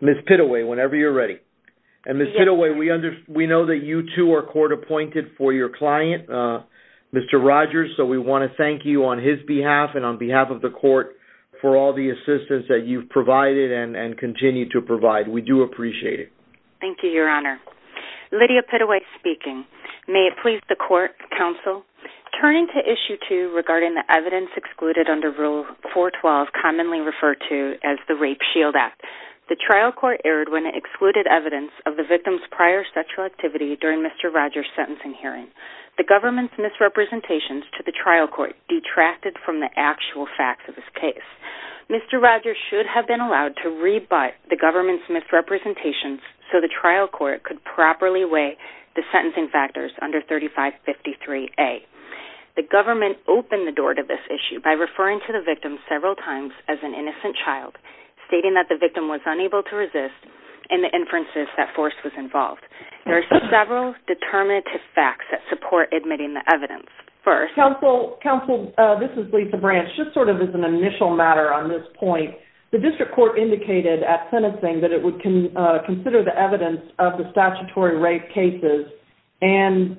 Ms. Pitaway, whenever you're ready. And Ms. Pitaway, we know that you, too, are court-appointed for your client, Mr. Rogers, so we want to thank you on his behalf and on behalf of the court for all the assistance that you've provided and continue to provide. We do appreciate it. Thank you, Your Honor. Lydia Pitaway speaking. May it please the court, counsel, turning to Issue 2 regarding the evidence excluded under Rule 412, commonly referred to as the Rape Shield Act. The trial court erred when it excluded evidence of the victim's prior sexual activity during Mr. Rogers' sentencing hearing. The government's misrepresentations to the trial court detracted from the actual facts of his case. Mr. Rogers should have been allowed to rebut the government's misrepresentations so the trial court could properly weigh the sentencing factors under 3553A. The government opened the door to this issue by referring to the victim several times as an innocent child, stating that the victim was unable to resist and the inferences that force was involved. There are several determinative facts that support admitting the evidence. First... Counsel, this is Lisa Branch. Just sort of as an initial matter on this point, the district court indicated at sentencing that it would consider the evidence of the statutory rape cases and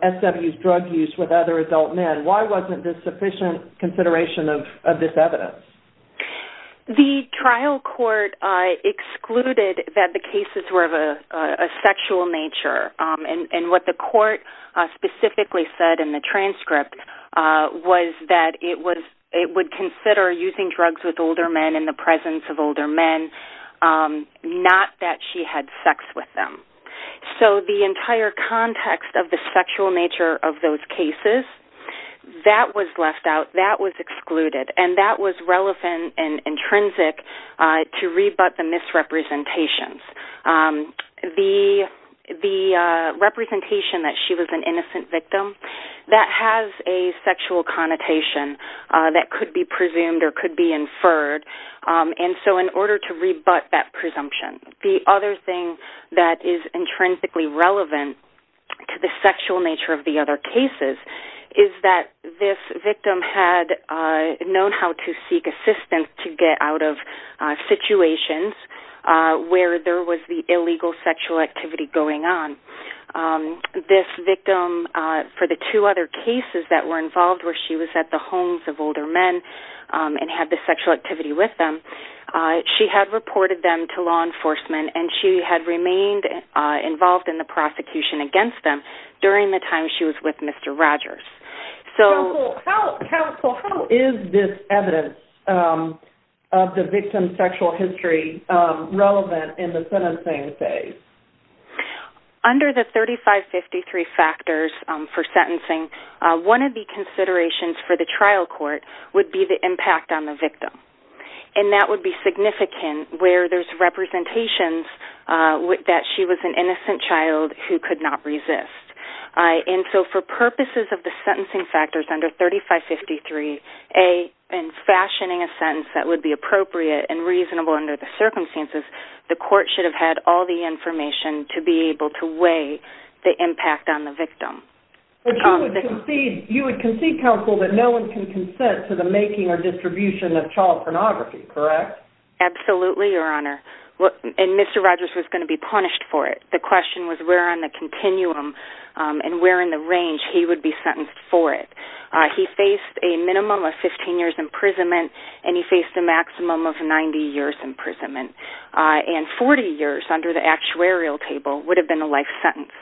SW's drug use with other adult men. Why wasn't this sufficient consideration of this evidence? The trial court excluded that the cases were of a sexual nature and what the court specifically said in the transcript was that it would consider using drugs with older men in the presence of older men, not that she had sex with them. So the entire context of the sexual nature of those cases, that was left out, that was excluded, and that was relevant and intrinsic to rebut the misrepresentations. The representation that she was an innocent victim, that has a sexual connotation that could be presumed or could be inferred, and so in order to rebut that presumption. The other thing that is intrinsically relevant to the sexual nature of the other cases is that this victim had known how to seek assistance to get out of situations where there was the illegal sexual activity going on. This victim, for the two other cases that were involved where she was at the homes of older men and had the sexual activity with them, she had reported them to law enforcement and she had remained involved in the prosecution against them during the time she was with Mr. Rogers. Counsel, how is this evidence of the victim's sexual history relevant in the sentencing phase? Under the 3553 factors for sentencing, one of the considerations for the trial court would be the impact on the victim, and that would be significant where there's representations that she was an innocent child who could not resist. And so for purposes of the sentencing factors under 3553, A, in fashioning a sentence that would be appropriate and reasonable under the circumstances, the court should have had all the information to be able to weigh the impact on the victim. But you would concede, counsel, that no one can consent to the making or distribution of child pornography, correct? Absolutely, Your Honor. And Mr. Rogers was going to be punished for it. The question was where on the continuum and where in the range he would be sentenced for it. He faced a minimum of 15 years imprisonment and he faced a maximum of 90 years imprisonment. And 40 years under the actuarial table would have been a life sentence.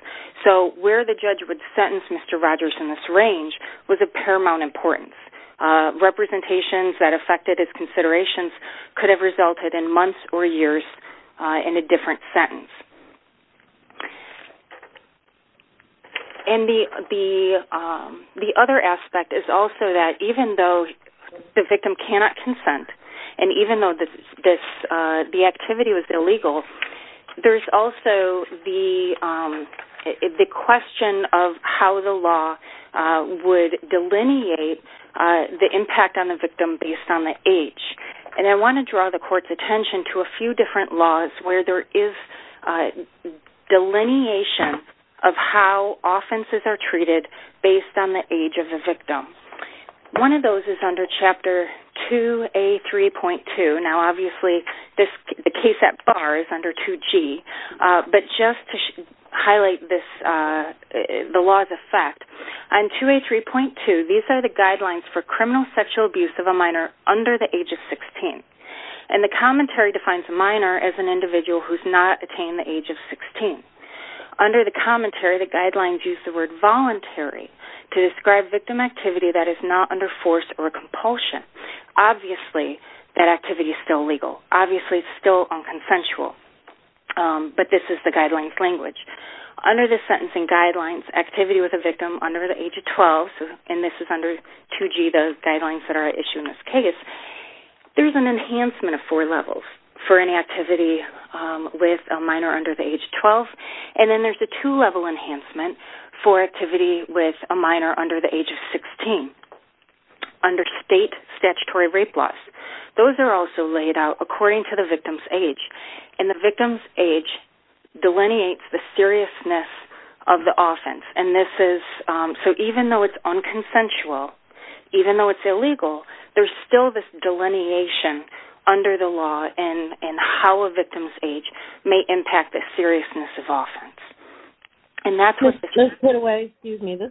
So where the judge would sentence Mr. Rogers in this range was of paramount importance. Representations that affected his considerations could have resulted in months or years in a different sentence. And the other aspect is also that even though the victim cannot consent and even though the activity was illegal, there's also the question of how the law would delineate the impact on the victim based on the age. And I want to draw the court's attention to a few different laws where there is delineation of how offenses are treated based on the age of the victim. One of those is under Chapter 2A3.2. Now, obviously, the case at bar is under 2G. But just to highlight the laws of fact, on 2A3.2, these are the guidelines for criminal sexual abuse of a minor under the age of 16. And the commentary defines a minor as an individual who has not attained the age of 16. Under the commentary, the guidelines use the word voluntary to describe victim activity that is not under force or compulsion. Obviously, that activity is still legal. Obviously, it's still unconsensual. But this is the guidelines language. Under the sentencing guidelines, activity with a victim under the age of 12, and this is under 2G, the guidelines that are issued in this case, there's an enhancement of four levels for any activity with a minor under the age of 12. And then there's a two-level enhancement for activity with a minor under the age of 16. Under state statutory rape laws, those are also laid out according to the victim's age. And the victim's age delineates the seriousness of the offense. So even though it's unconsensual, even though it's illegal, there's still this delineation under the law in how a victim's age may impact the seriousness of offense. This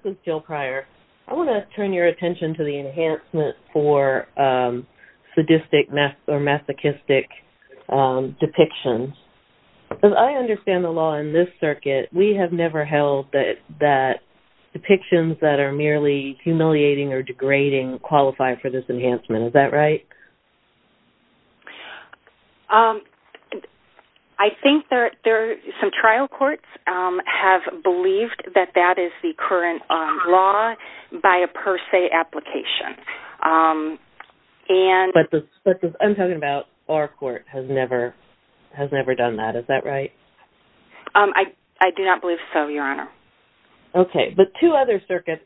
is Jill Pryor. I want to turn your attention to the enhancement for sadistic or masochistic depictions. As I understand the law in this circuit, we have never held that depictions that are merely humiliating or degrading qualify for this enhancement. Is that right? I think there are some trial courts have believed that that is the current law by a per se application. But I'm talking about our court has never done that. Is that right? I do not believe so, Your Honor. Okay. But two other circuits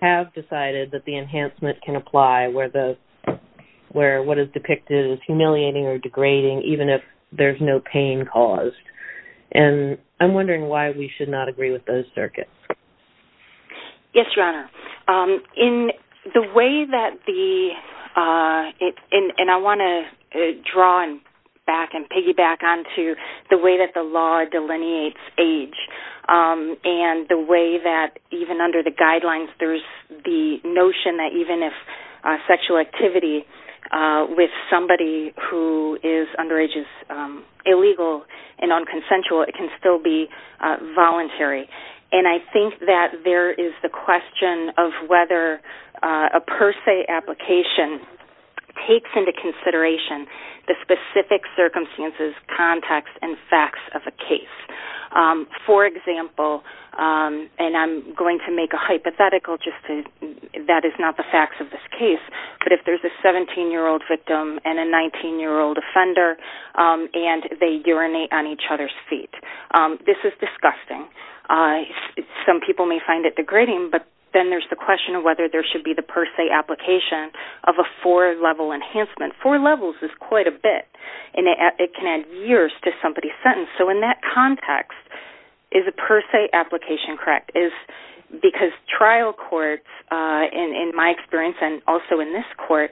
have decided that the enhancement can apply where what is depicted as humiliating or degrading even if there's no pain caused. And I'm wondering why we should not agree with those circuits. Yes, Your Honor. In the way that the – and I want to draw back and piggyback onto the way that the law delineates age and the way that even under the guidelines there's the notion that even if sexual activity with somebody who is underage is illegal and unconsensual, it can still be voluntary. And I think that there is the question of whether a per se application takes into consideration the specific circumstances, context, and facts of a case. For example, and I'm going to make a hypothetical just to – that is not the facts of this case, but if there's a 17-year-old victim and a 19-year-old offender and they urinate on each other's feet. This is disgusting. Some people may find it degrading, but then there's the question of whether there should be the per se application of a four-level enhancement. Four levels is quite a bit, and it can add years to somebody's sentence. So in that context, is a per se application correct? Because trial courts, in my experience and also in this court,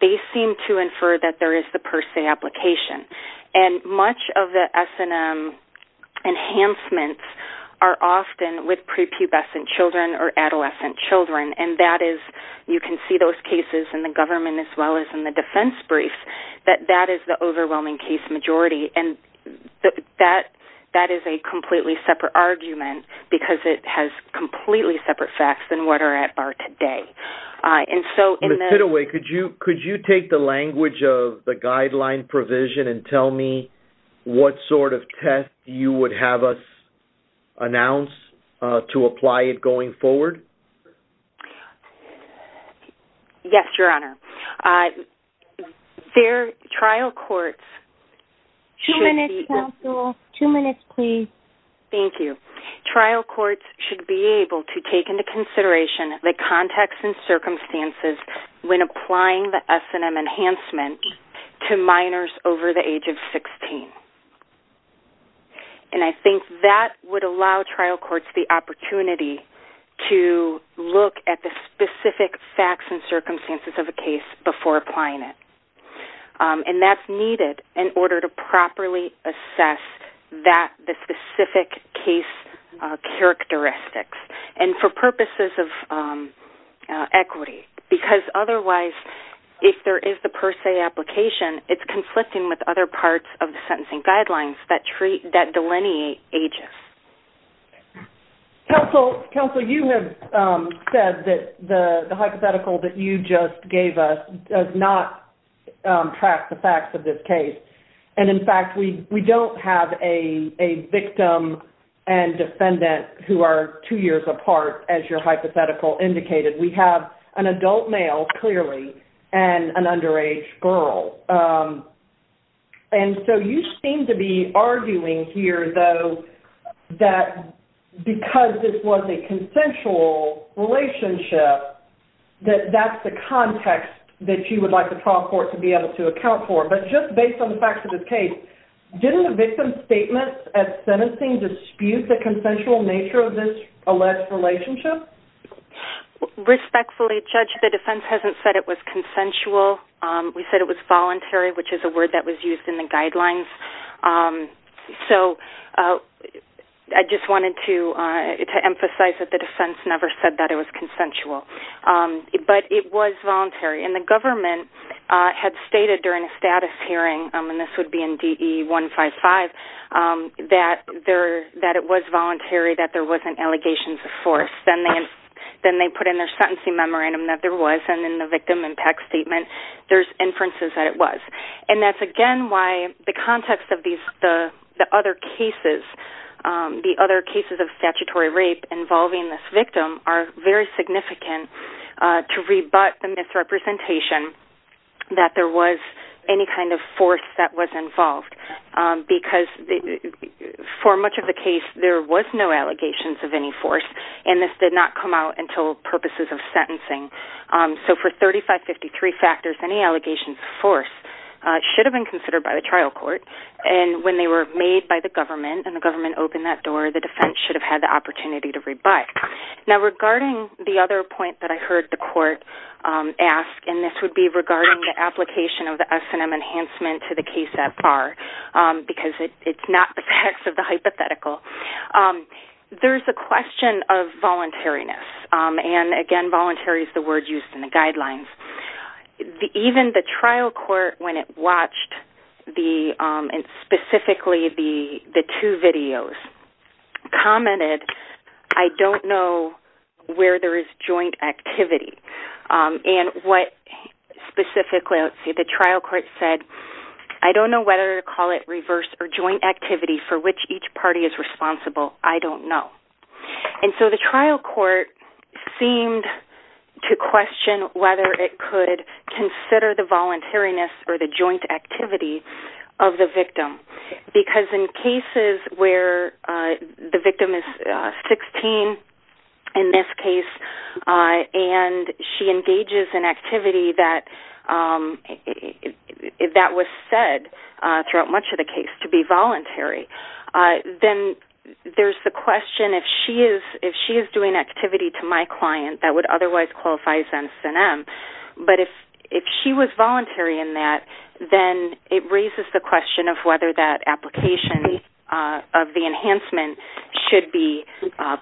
they seem to infer that there is the per se application. And much of the S&M enhancements are often with prepubescent children or adolescent children. And that is – you can see those cases in the government as well as in the defense briefs that that is the overwhelming case majority. And that is a completely separate argument because it has completely separate facts than what are at bar today. And so in the – Ms. Siddoway, could you take the language of the guideline provision and tell me what sort of test you would have us announce to apply it going forward? Yes, Your Honor. There – trial courts should be – Two minutes, counsel. Two minutes, please. Thank you. Trial courts should be able to take into consideration the context and circumstances when applying the S&M enhancement to minors over the age of 16. And I think that would allow trial courts the opportunity to look at the specific facts and circumstances of a case before applying it. And that's needed in order to properly assess that – the specific case characteristics and for purposes of equity. Because otherwise, if there is the per se application, it's conflicting with other parts of the sentencing guidelines that delineate ages. Counsel, you have said that the hypothetical that you just gave us does not track the facts of this case. And in fact, we don't have a victim and defendant who are two years apart as your hypothetical indicated. We have an adult male, clearly, and an underage girl. And so you seem to be arguing here, though, that because this was a consensual relationship, that that's the context that you would like the trial court to be able to account for. But just based on the facts of this case, didn't the victim's statements at sentencing dispute the consensual nature of this alleged relationship? Respectfully, Judge, the defense hasn't said it was consensual. We said it was voluntary, which is a word that was used in the guidelines. So I just wanted to emphasize that the defense never said that it was consensual. But it was voluntary. And the government had stated during a status hearing – and this would be in DE 155 – that it was voluntary, that there wasn't allegations of force. Then they put in their sentencing memorandum that there was. And in the victim impact statement, there's inferences that it was. And that's, again, why the context of the other cases, the other cases of statutory rape involving this victim, are very significant to rebut the misrepresentation that there was any kind of force that was involved. Because for much of the case, there was no allegations of any force. And this did not come out until purposes of sentencing. So for 3553 factors, any allegations of force should have been considered by the trial court. And when they were made by the government and the government opened that door, the defense should have had the opportunity to rebut. Now, regarding the other point that I heard the court ask, and this would be regarding the application of the S&M enhancement to the case at bar, because it's not the facts of the hypothetical. There's a question of voluntariness. And, again, voluntary is the word used in the guidelines. Even the trial court, when it watched specifically the two videos, commented, I don't know where there is joint activity. And what specifically the trial court said, I don't know whether to call it reverse or joint activity for which each party is responsible. I don't know. And so the trial court seemed to question whether it could consider the voluntariness or the joint activity of the victim. Because in cases where the victim is 16, in this case, and she engages in activity that was said throughout much of the case to be voluntary, then there's the question if she is doing activity to my client that would otherwise qualify as S&M. But if she was voluntary in that, then it raises the question of whether that application of the enhancement should be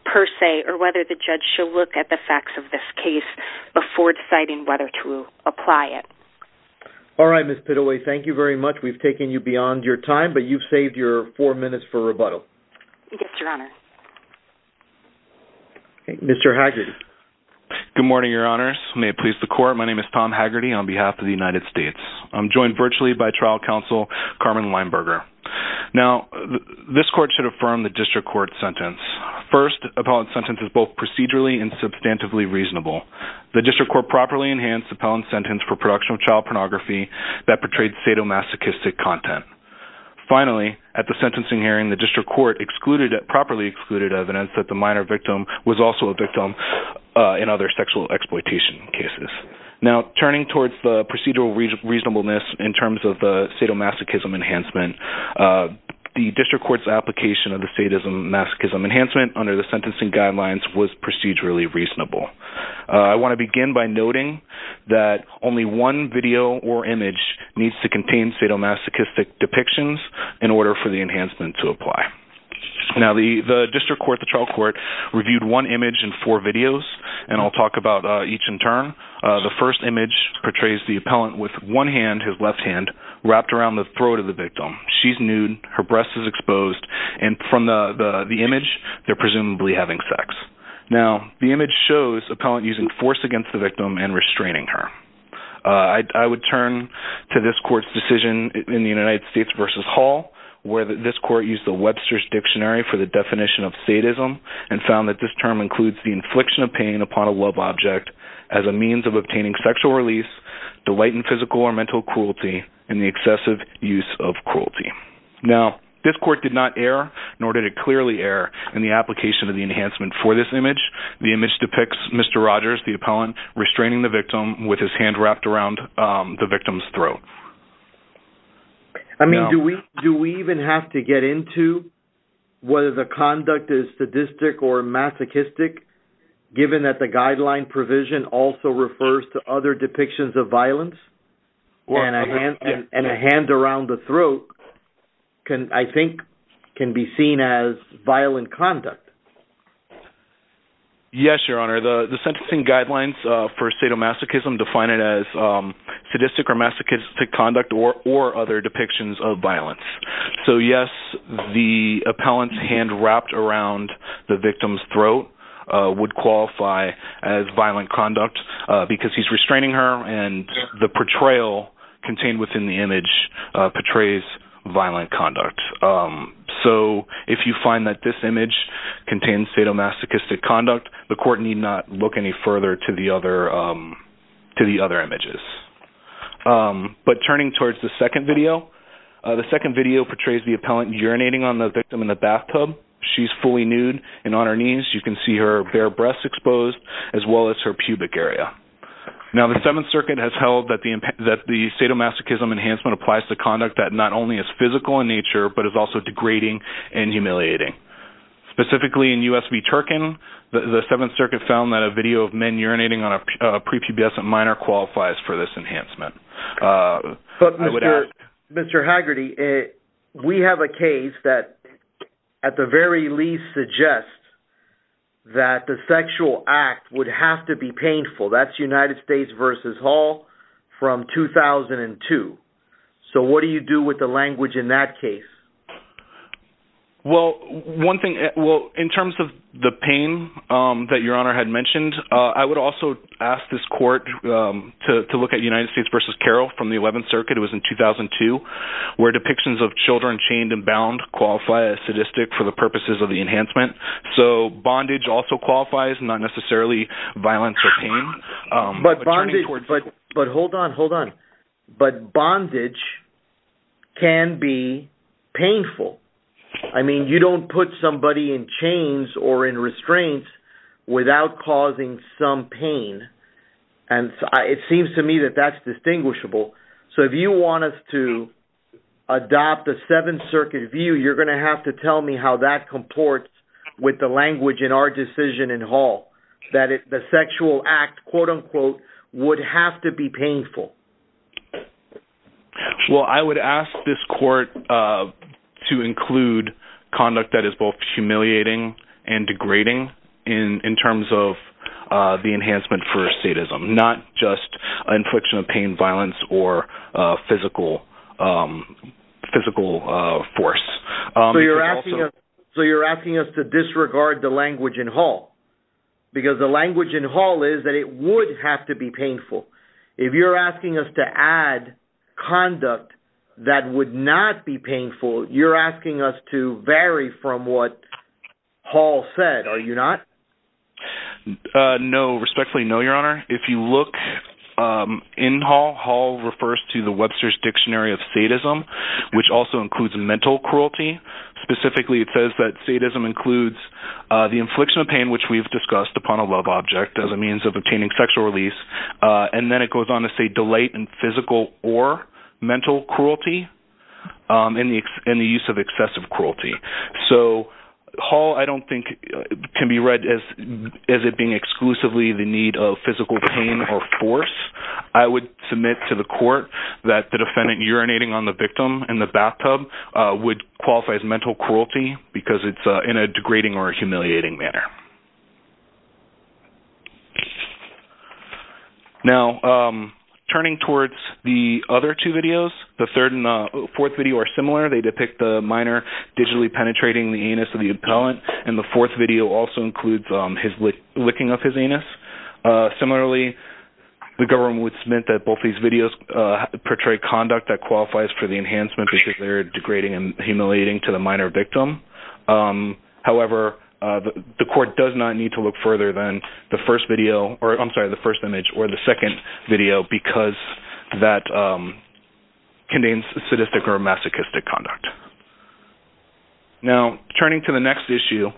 per se, or whether the judge should look at the facts of this case before deciding whether to apply it. All right, Ms. Pitaway, thank you very much. We've taken you beyond your time, but you've saved your four minutes for rebuttal. Yes, Your Honor. Mr. Haggerty. Good morning, Your Honors. May it please the Court, my name is Tom Haggerty on behalf of the United States. I'm joined virtually by trial counsel, Carmen Weinberger. Now, this court should affirm the district court sentence. First, appellate sentence is both procedurally and substantively reasonable. The district court properly enhanced appellant sentence for production of child pornography that portrayed sadomasochistic content. Finally, at the sentencing hearing, the district court properly excluded evidence that the minor victim was also a victim in other sexual exploitation cases. Now, turning towards the procedural reasonableness in terms of the sadomasochism enhancement, the district court's application of the sadomasochism enhancement under the sentencing guidelines was procedurally reasonable. I want to begin by noting that only one video or image needs to contain sadomasochistic depictions in order for the enhancement to apply. Now, the district court, the trial court, reviewed one image and four videos, and I'll talk about each in turn. The first image portrays the appellant with one hand, his left hand, wrapped around the throat of the victim. She's nude, her breast is exposed, and from the image, they're presumably having sex. Now, the image shows appellant using force against the victim and restraining her. I would turn to this court's decision in the United States v. Hall, where this court used the Webster's Dictionary for the definition of sadism and found that this term includes the infliction of pain upon a love object as a means of obtaining sexual release, delight in physical or mental cruelty, and the excessive use of cruelty. Now, this court did not err, nor did it clearly err, in the application of the enhancement for this image. The image depicts Mr. Rogers, the appellant, restraining the victim with his hand wrapped around the victim's throat. I mean, do we even have to get into whether the conduct is sadistic or masochistic, given that the guideline provision also refers to other depictions of violence, and a hand around the throat, I think, can be seen as violent conduct? Yes, Your Honor, the sentencing guidelines for sadomasochism define it as sadistic or masochistic conduct or other depictions of violence. So, yes, the appellant's hand wrapped around the victim's throat would qualify as violent conduct because he's restraining her, and the portrayal contained within the image portrays violent conduct. So, if you find that this image contains sadomasochistic conduct, the court need not look any further to the other images. But turning towards the second video, the second video portrays the appellant urinating on the victim in the bathtub. She's fully nude, and on her knees, you can see her bare breasts exposed, as well as her pubic area. Now, the Seventh Circuit has held that the sadomasochism enhancement applies to conduct that not only is physical in nature, but is also degrading and humiliating. Specifically in U.S. v. Turkin, the Seventh Circuit found that a video of men urinating on a prepubescent minor qualifies for this enhancement. But, Mr. Haggerty, we have a case that, at the very least, suggests that the sexual act would have to be painful. That's United States v. Hall from 2002. So, what do you do with the language in that case? Well, in terms of the pain that Your Honor had mentioned, I would also ask this court to look at United States v. Carroll from the Eleventh Circuit. It was in 2002, where depictions of children chained and bound qualify as sadistic for the purposes of the enhancement. So, bondage also qualifies, not necessarily violence or pain. But hold on, hold on. But bondage can be painful. I mean, you don't put somebody in chains or in restraints without causing some pain. And it seems to me that that's distinguishable. So, if you want us to adopt the Seventh Circuit view, you're going to have to tell me how that comports with the language in our decision in Hall. That the sexual act, quote-unquote, would have to be painful. Well, I would ask this court to include conduct that is both humiliating and degrading in terms of the enhancement for sadism. Not just an infliction of pain, violence, or physical force. So, you're asking us to disregard the language in Hall? Because the language in Hall is that it would have to be painful. If you're asking us to add conduct that would not be painful, you're asking us to vary from what Hall said, are you not? If you look in Hall, Hall refers to the Webster's Dictionary of Sadism, which also includes mental cruelty. Specifically, it says that sadism includes the infliction of pain, which we've discussed, upon a love object as a means of obtaining sexual release. And then it goes on to say delight in physical or mental cruelty and the use of excessive cruelty. So, Hall, I don't think, can be read as it being exclusively the need of physical pain or force. I would submit to the court that the defendant urinating on the victim in the bathtub would qualify as mental cruelty because it's in a degrading or humiliating manner. Now, turning towards the other two videos, the third and fourth video are similar. They depict the minor digitally penetrating the anus of the appellant, and the fourth video also includes his licking of his anus. Similarly, the government would submit that both these videos portray conduct that qualifies for the enhancement because they're degrading and humiliating to the minor victim. However, the court does not need to look further than the first image or the second video because that contains sadistic or masochistic conduct. Now, turning to the next issue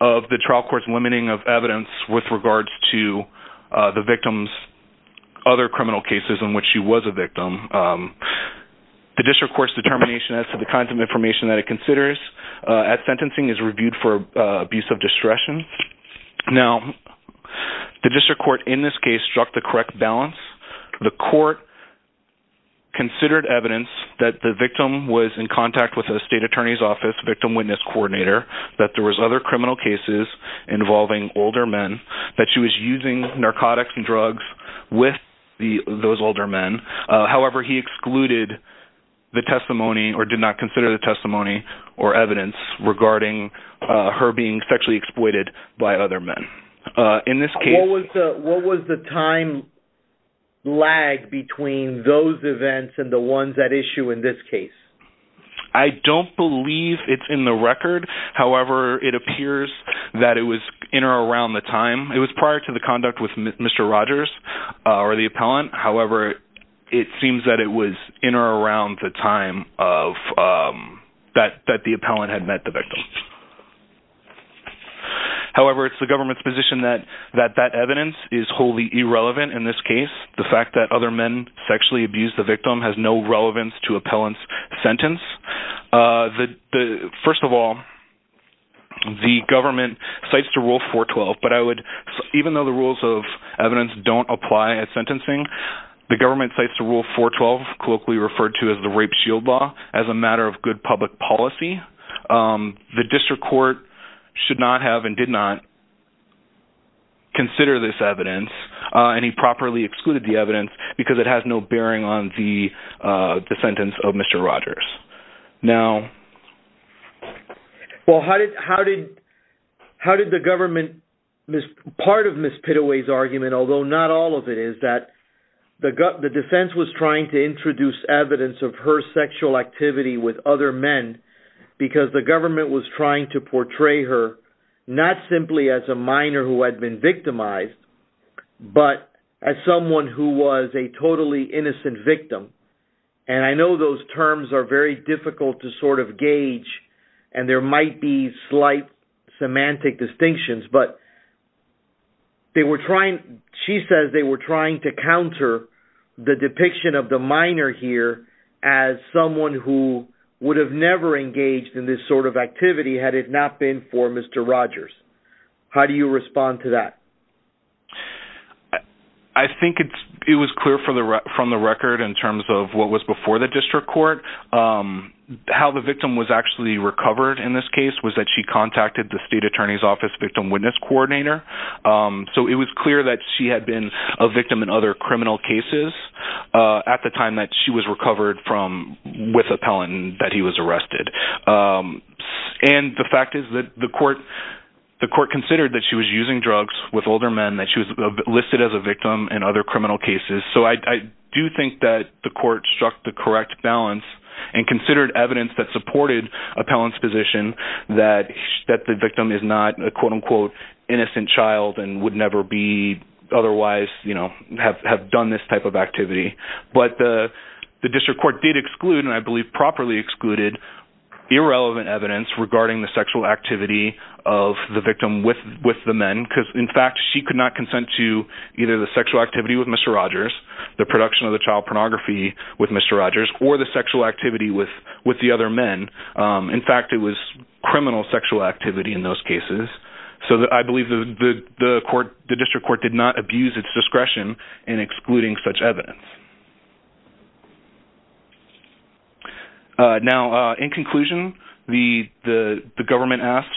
of the trial court's limiting of evidence with regards to the victim's other criminal cases in which she was a victim, the district court's determination as to the kinds of information that it considers at sentencing is reviewed for abuse of discretion. Now, the district court in this case struck the correct balance. The court considered evidence that the victim was in contact with a state attorney's office victim witness coordinator, that there was other criminal cases involving older men, that she was using narcotics and drugs with those older men. However, he excluded the testimony or did not consider the testimony or evidence regarding her being sexually exploited by other men. In this case... What was the time lag between those events and the ones at issue in this case? I don't believe it's in the record. However, it appears that it was in or around the time. It was prior to the conduct with Mr. Rogers or the appellant. However, it seems that it was in or around the time that the appellant had met the victim. However, it's the government's position that that evidence is wholly irrelevant in this case. The fact that other men sexually abused the victim has no relevance to appellant's sentence. First of all, the government cites the Rule 412. But I would... Even though the rules of evidence don't apply at sentencing, the government cites the Rule 412, colloquially referred to as the Rape Shield Law, as a matter of good public policy. The district court should not have and did not consider this evidence. And he properly excluded the evidence because it has no bearing on the sentence of Mr. Rogers. Now... Well, how did the government... Part of Ms. Pitaway's argument, although not all of it, is that the defense was trying to introduce evidence of her sexual activity with other men because the government was trying to portray her not simply as a minor who had been victimized, but as someone who was a totally innocent victim. And I know those terms are very difficult to sort of gauge, and there might be slight semantic distinctions, but they were trying... She says they were trying to counter the depiction of the minor here as someone who would have never engaged in this sort of activity had it not been for Mr. Rogers. How do you respond to that? I think it was clear from the record in terms of what was before the district court how the victim was actually recovered in this case was that she contacted the State Attorney's Office Victim Witness Coordinator. So it was clear that she had been a victim in other criminal cases at the time that she was recovered from... with appellant and that he was arrested. And the fact is that the court considered that she was using drugs with older men, that she was listed as a victim in other criminal cases. So I do think that the court struck the correct balance and considered evidence that supported appellant's position that the victim is not a quote-unquote innocent child and would never otherwise have done this type of activity. But the district court did exclude, and I believe properly excluded, irrelevant evidence regarding the sexual activity of the victim with the men, because in fact she could not consent to either the sexual activity with Mr. Rogers, the production of the child pornography with Mr. Rogers, or the sexual activity with the other men. In fact, it was criminal sexual activity in those cases. So I believe the district court did not abuse its discretion in excluding such evidence. Now, in conclusion, the government asks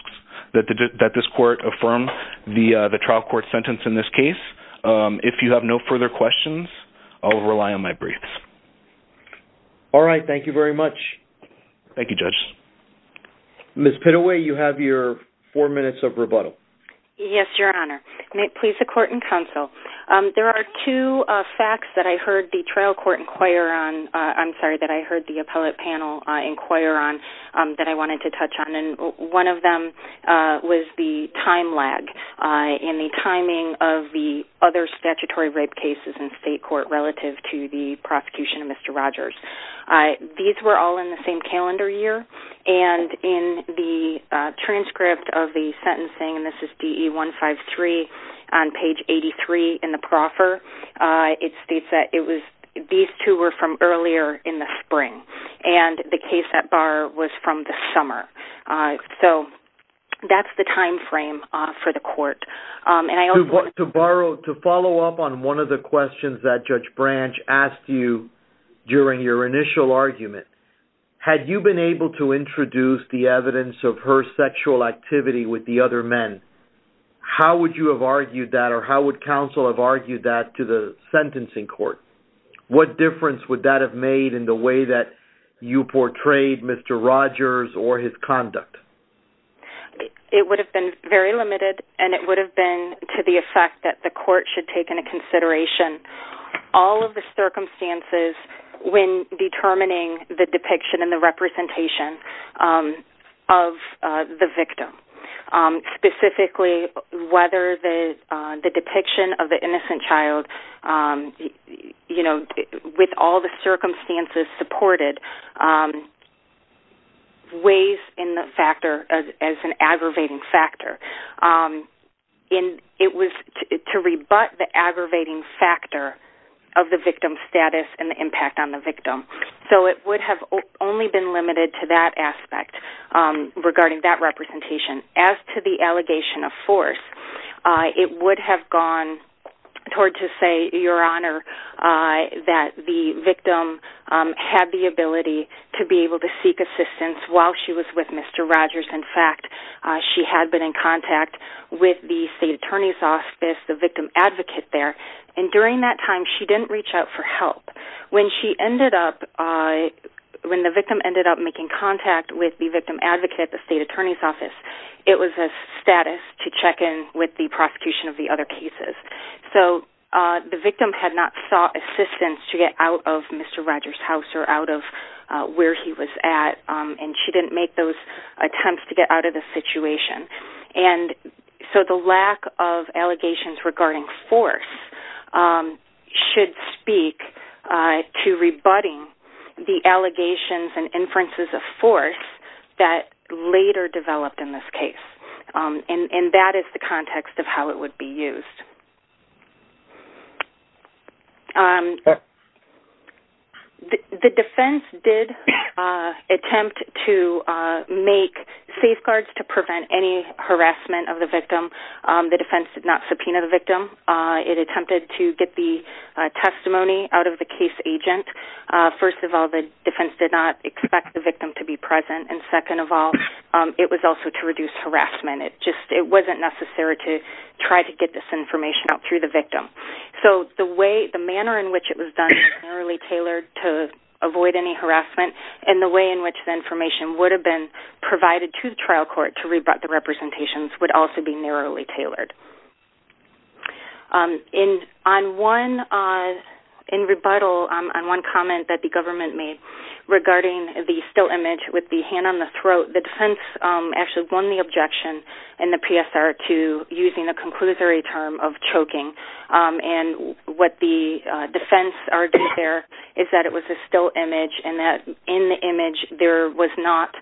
that this court affirm the trial court sentence in this case. If you have no further questions, I will rely on my briefs. All right. Thank you very much. Thank you, Judge. Ms. Pitaway, you have your four minutes of rebuttal. Yes, Your Honor. May it please the court and counsel, there are two facts that I heard the trial court inquire on, I'm sorry, that I heard the appellate panel inquire on that I wanted to touch on, and one of them was the time lag in the timing of the other statutory rape cases in state court relative to the prosecution of Mr. Rogers. These were all in the same calendar year, and in the transcript of the sentencing, and this is DE 153 on page 83 in the proffer, it states that these two were from earlier in the spring, and the case at bar was from the summer. So that's the time frame for the court. To follow up on one of the questions that Judge Branch asked you during your initial argument, had you been able to introduce the evidence of her sexual activity with the other men, how would you have argued that or how would counsel have argued that to the sentencing court? What difference would that have made in the way that you portrayed Mr. Rogers or his conduct? It would have been very limited, and it would have been to the effect that the court should take into consideration all of the circumstances when determining the depiction and the representation of the victim, specifically whether the depiction of the innocent child, you know, with all the circumstances supported weighs in the factor as an aggravating factor. It was to rebut the aggravating factor of the victim's status and the impact on the victim. So it would have only been limited to that aspect regarding that representation. As to the allegation of force, it would have gone toward to say, Your Honor, that the victim had the ability to be able to seek assistance while she was with Mr. Rogers. In fact, she had been in contact with the state attorney's office, the victim advocate there, and during that time she didn't reach out for help. When the victim ended up making contact with the victim advocate at the state attorney's office, it was a status to check in with the prosecution of the other cases. So the victim had not sought assistance to get out of Mr. Rogers' house or out of where he was at, and she didn't make those attempts to get out of the situation. And so the lack of allegations regarding force should speak to rebutting the allegations and inferences of force that later developed in this case. And that is the context of how it would be used. The defense did attempt to make safeguards to prevent any harassment of the victim. The defense did not subpoena the victim. It attempted to get the testimony out of the case agent. First of all, the defense did not expect the victim to be present, and second of all, it was also to reduce harassment. It wasn't necessary to try to get this information out through the victim. So the manner in which it was done was narrowly tailored to avoid any harassment, and the way in which the information would have been provided to the trial court to rebut the representations would also be narrowly tailored. In rebuttal on one comment that the government made regarding the still image with the hand on the throat, the defense actually won the objection in the PSR to using the conclusory term of choking, and what the defense argued there is that it was a still image and that in the image there was not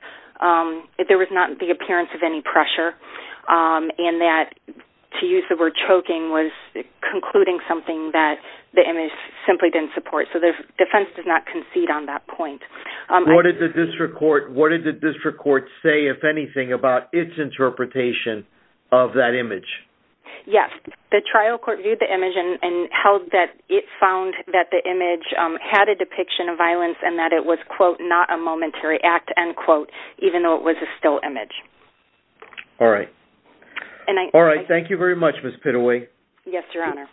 the appearance of any pressure, and that to use the word choking was concluding something that the image simply didn't support. So the defense did not concede on that point. What did the district court say, if anything, about its interpretation of that image? Yes. The trial court viewed the image and held that it found that the image had a depiction of violence and that it was, quote, not a momentary act, end quote, even though it was a still image. All right. All right. Thank you very much, Ms. Pitaway. Yes, Your Honor.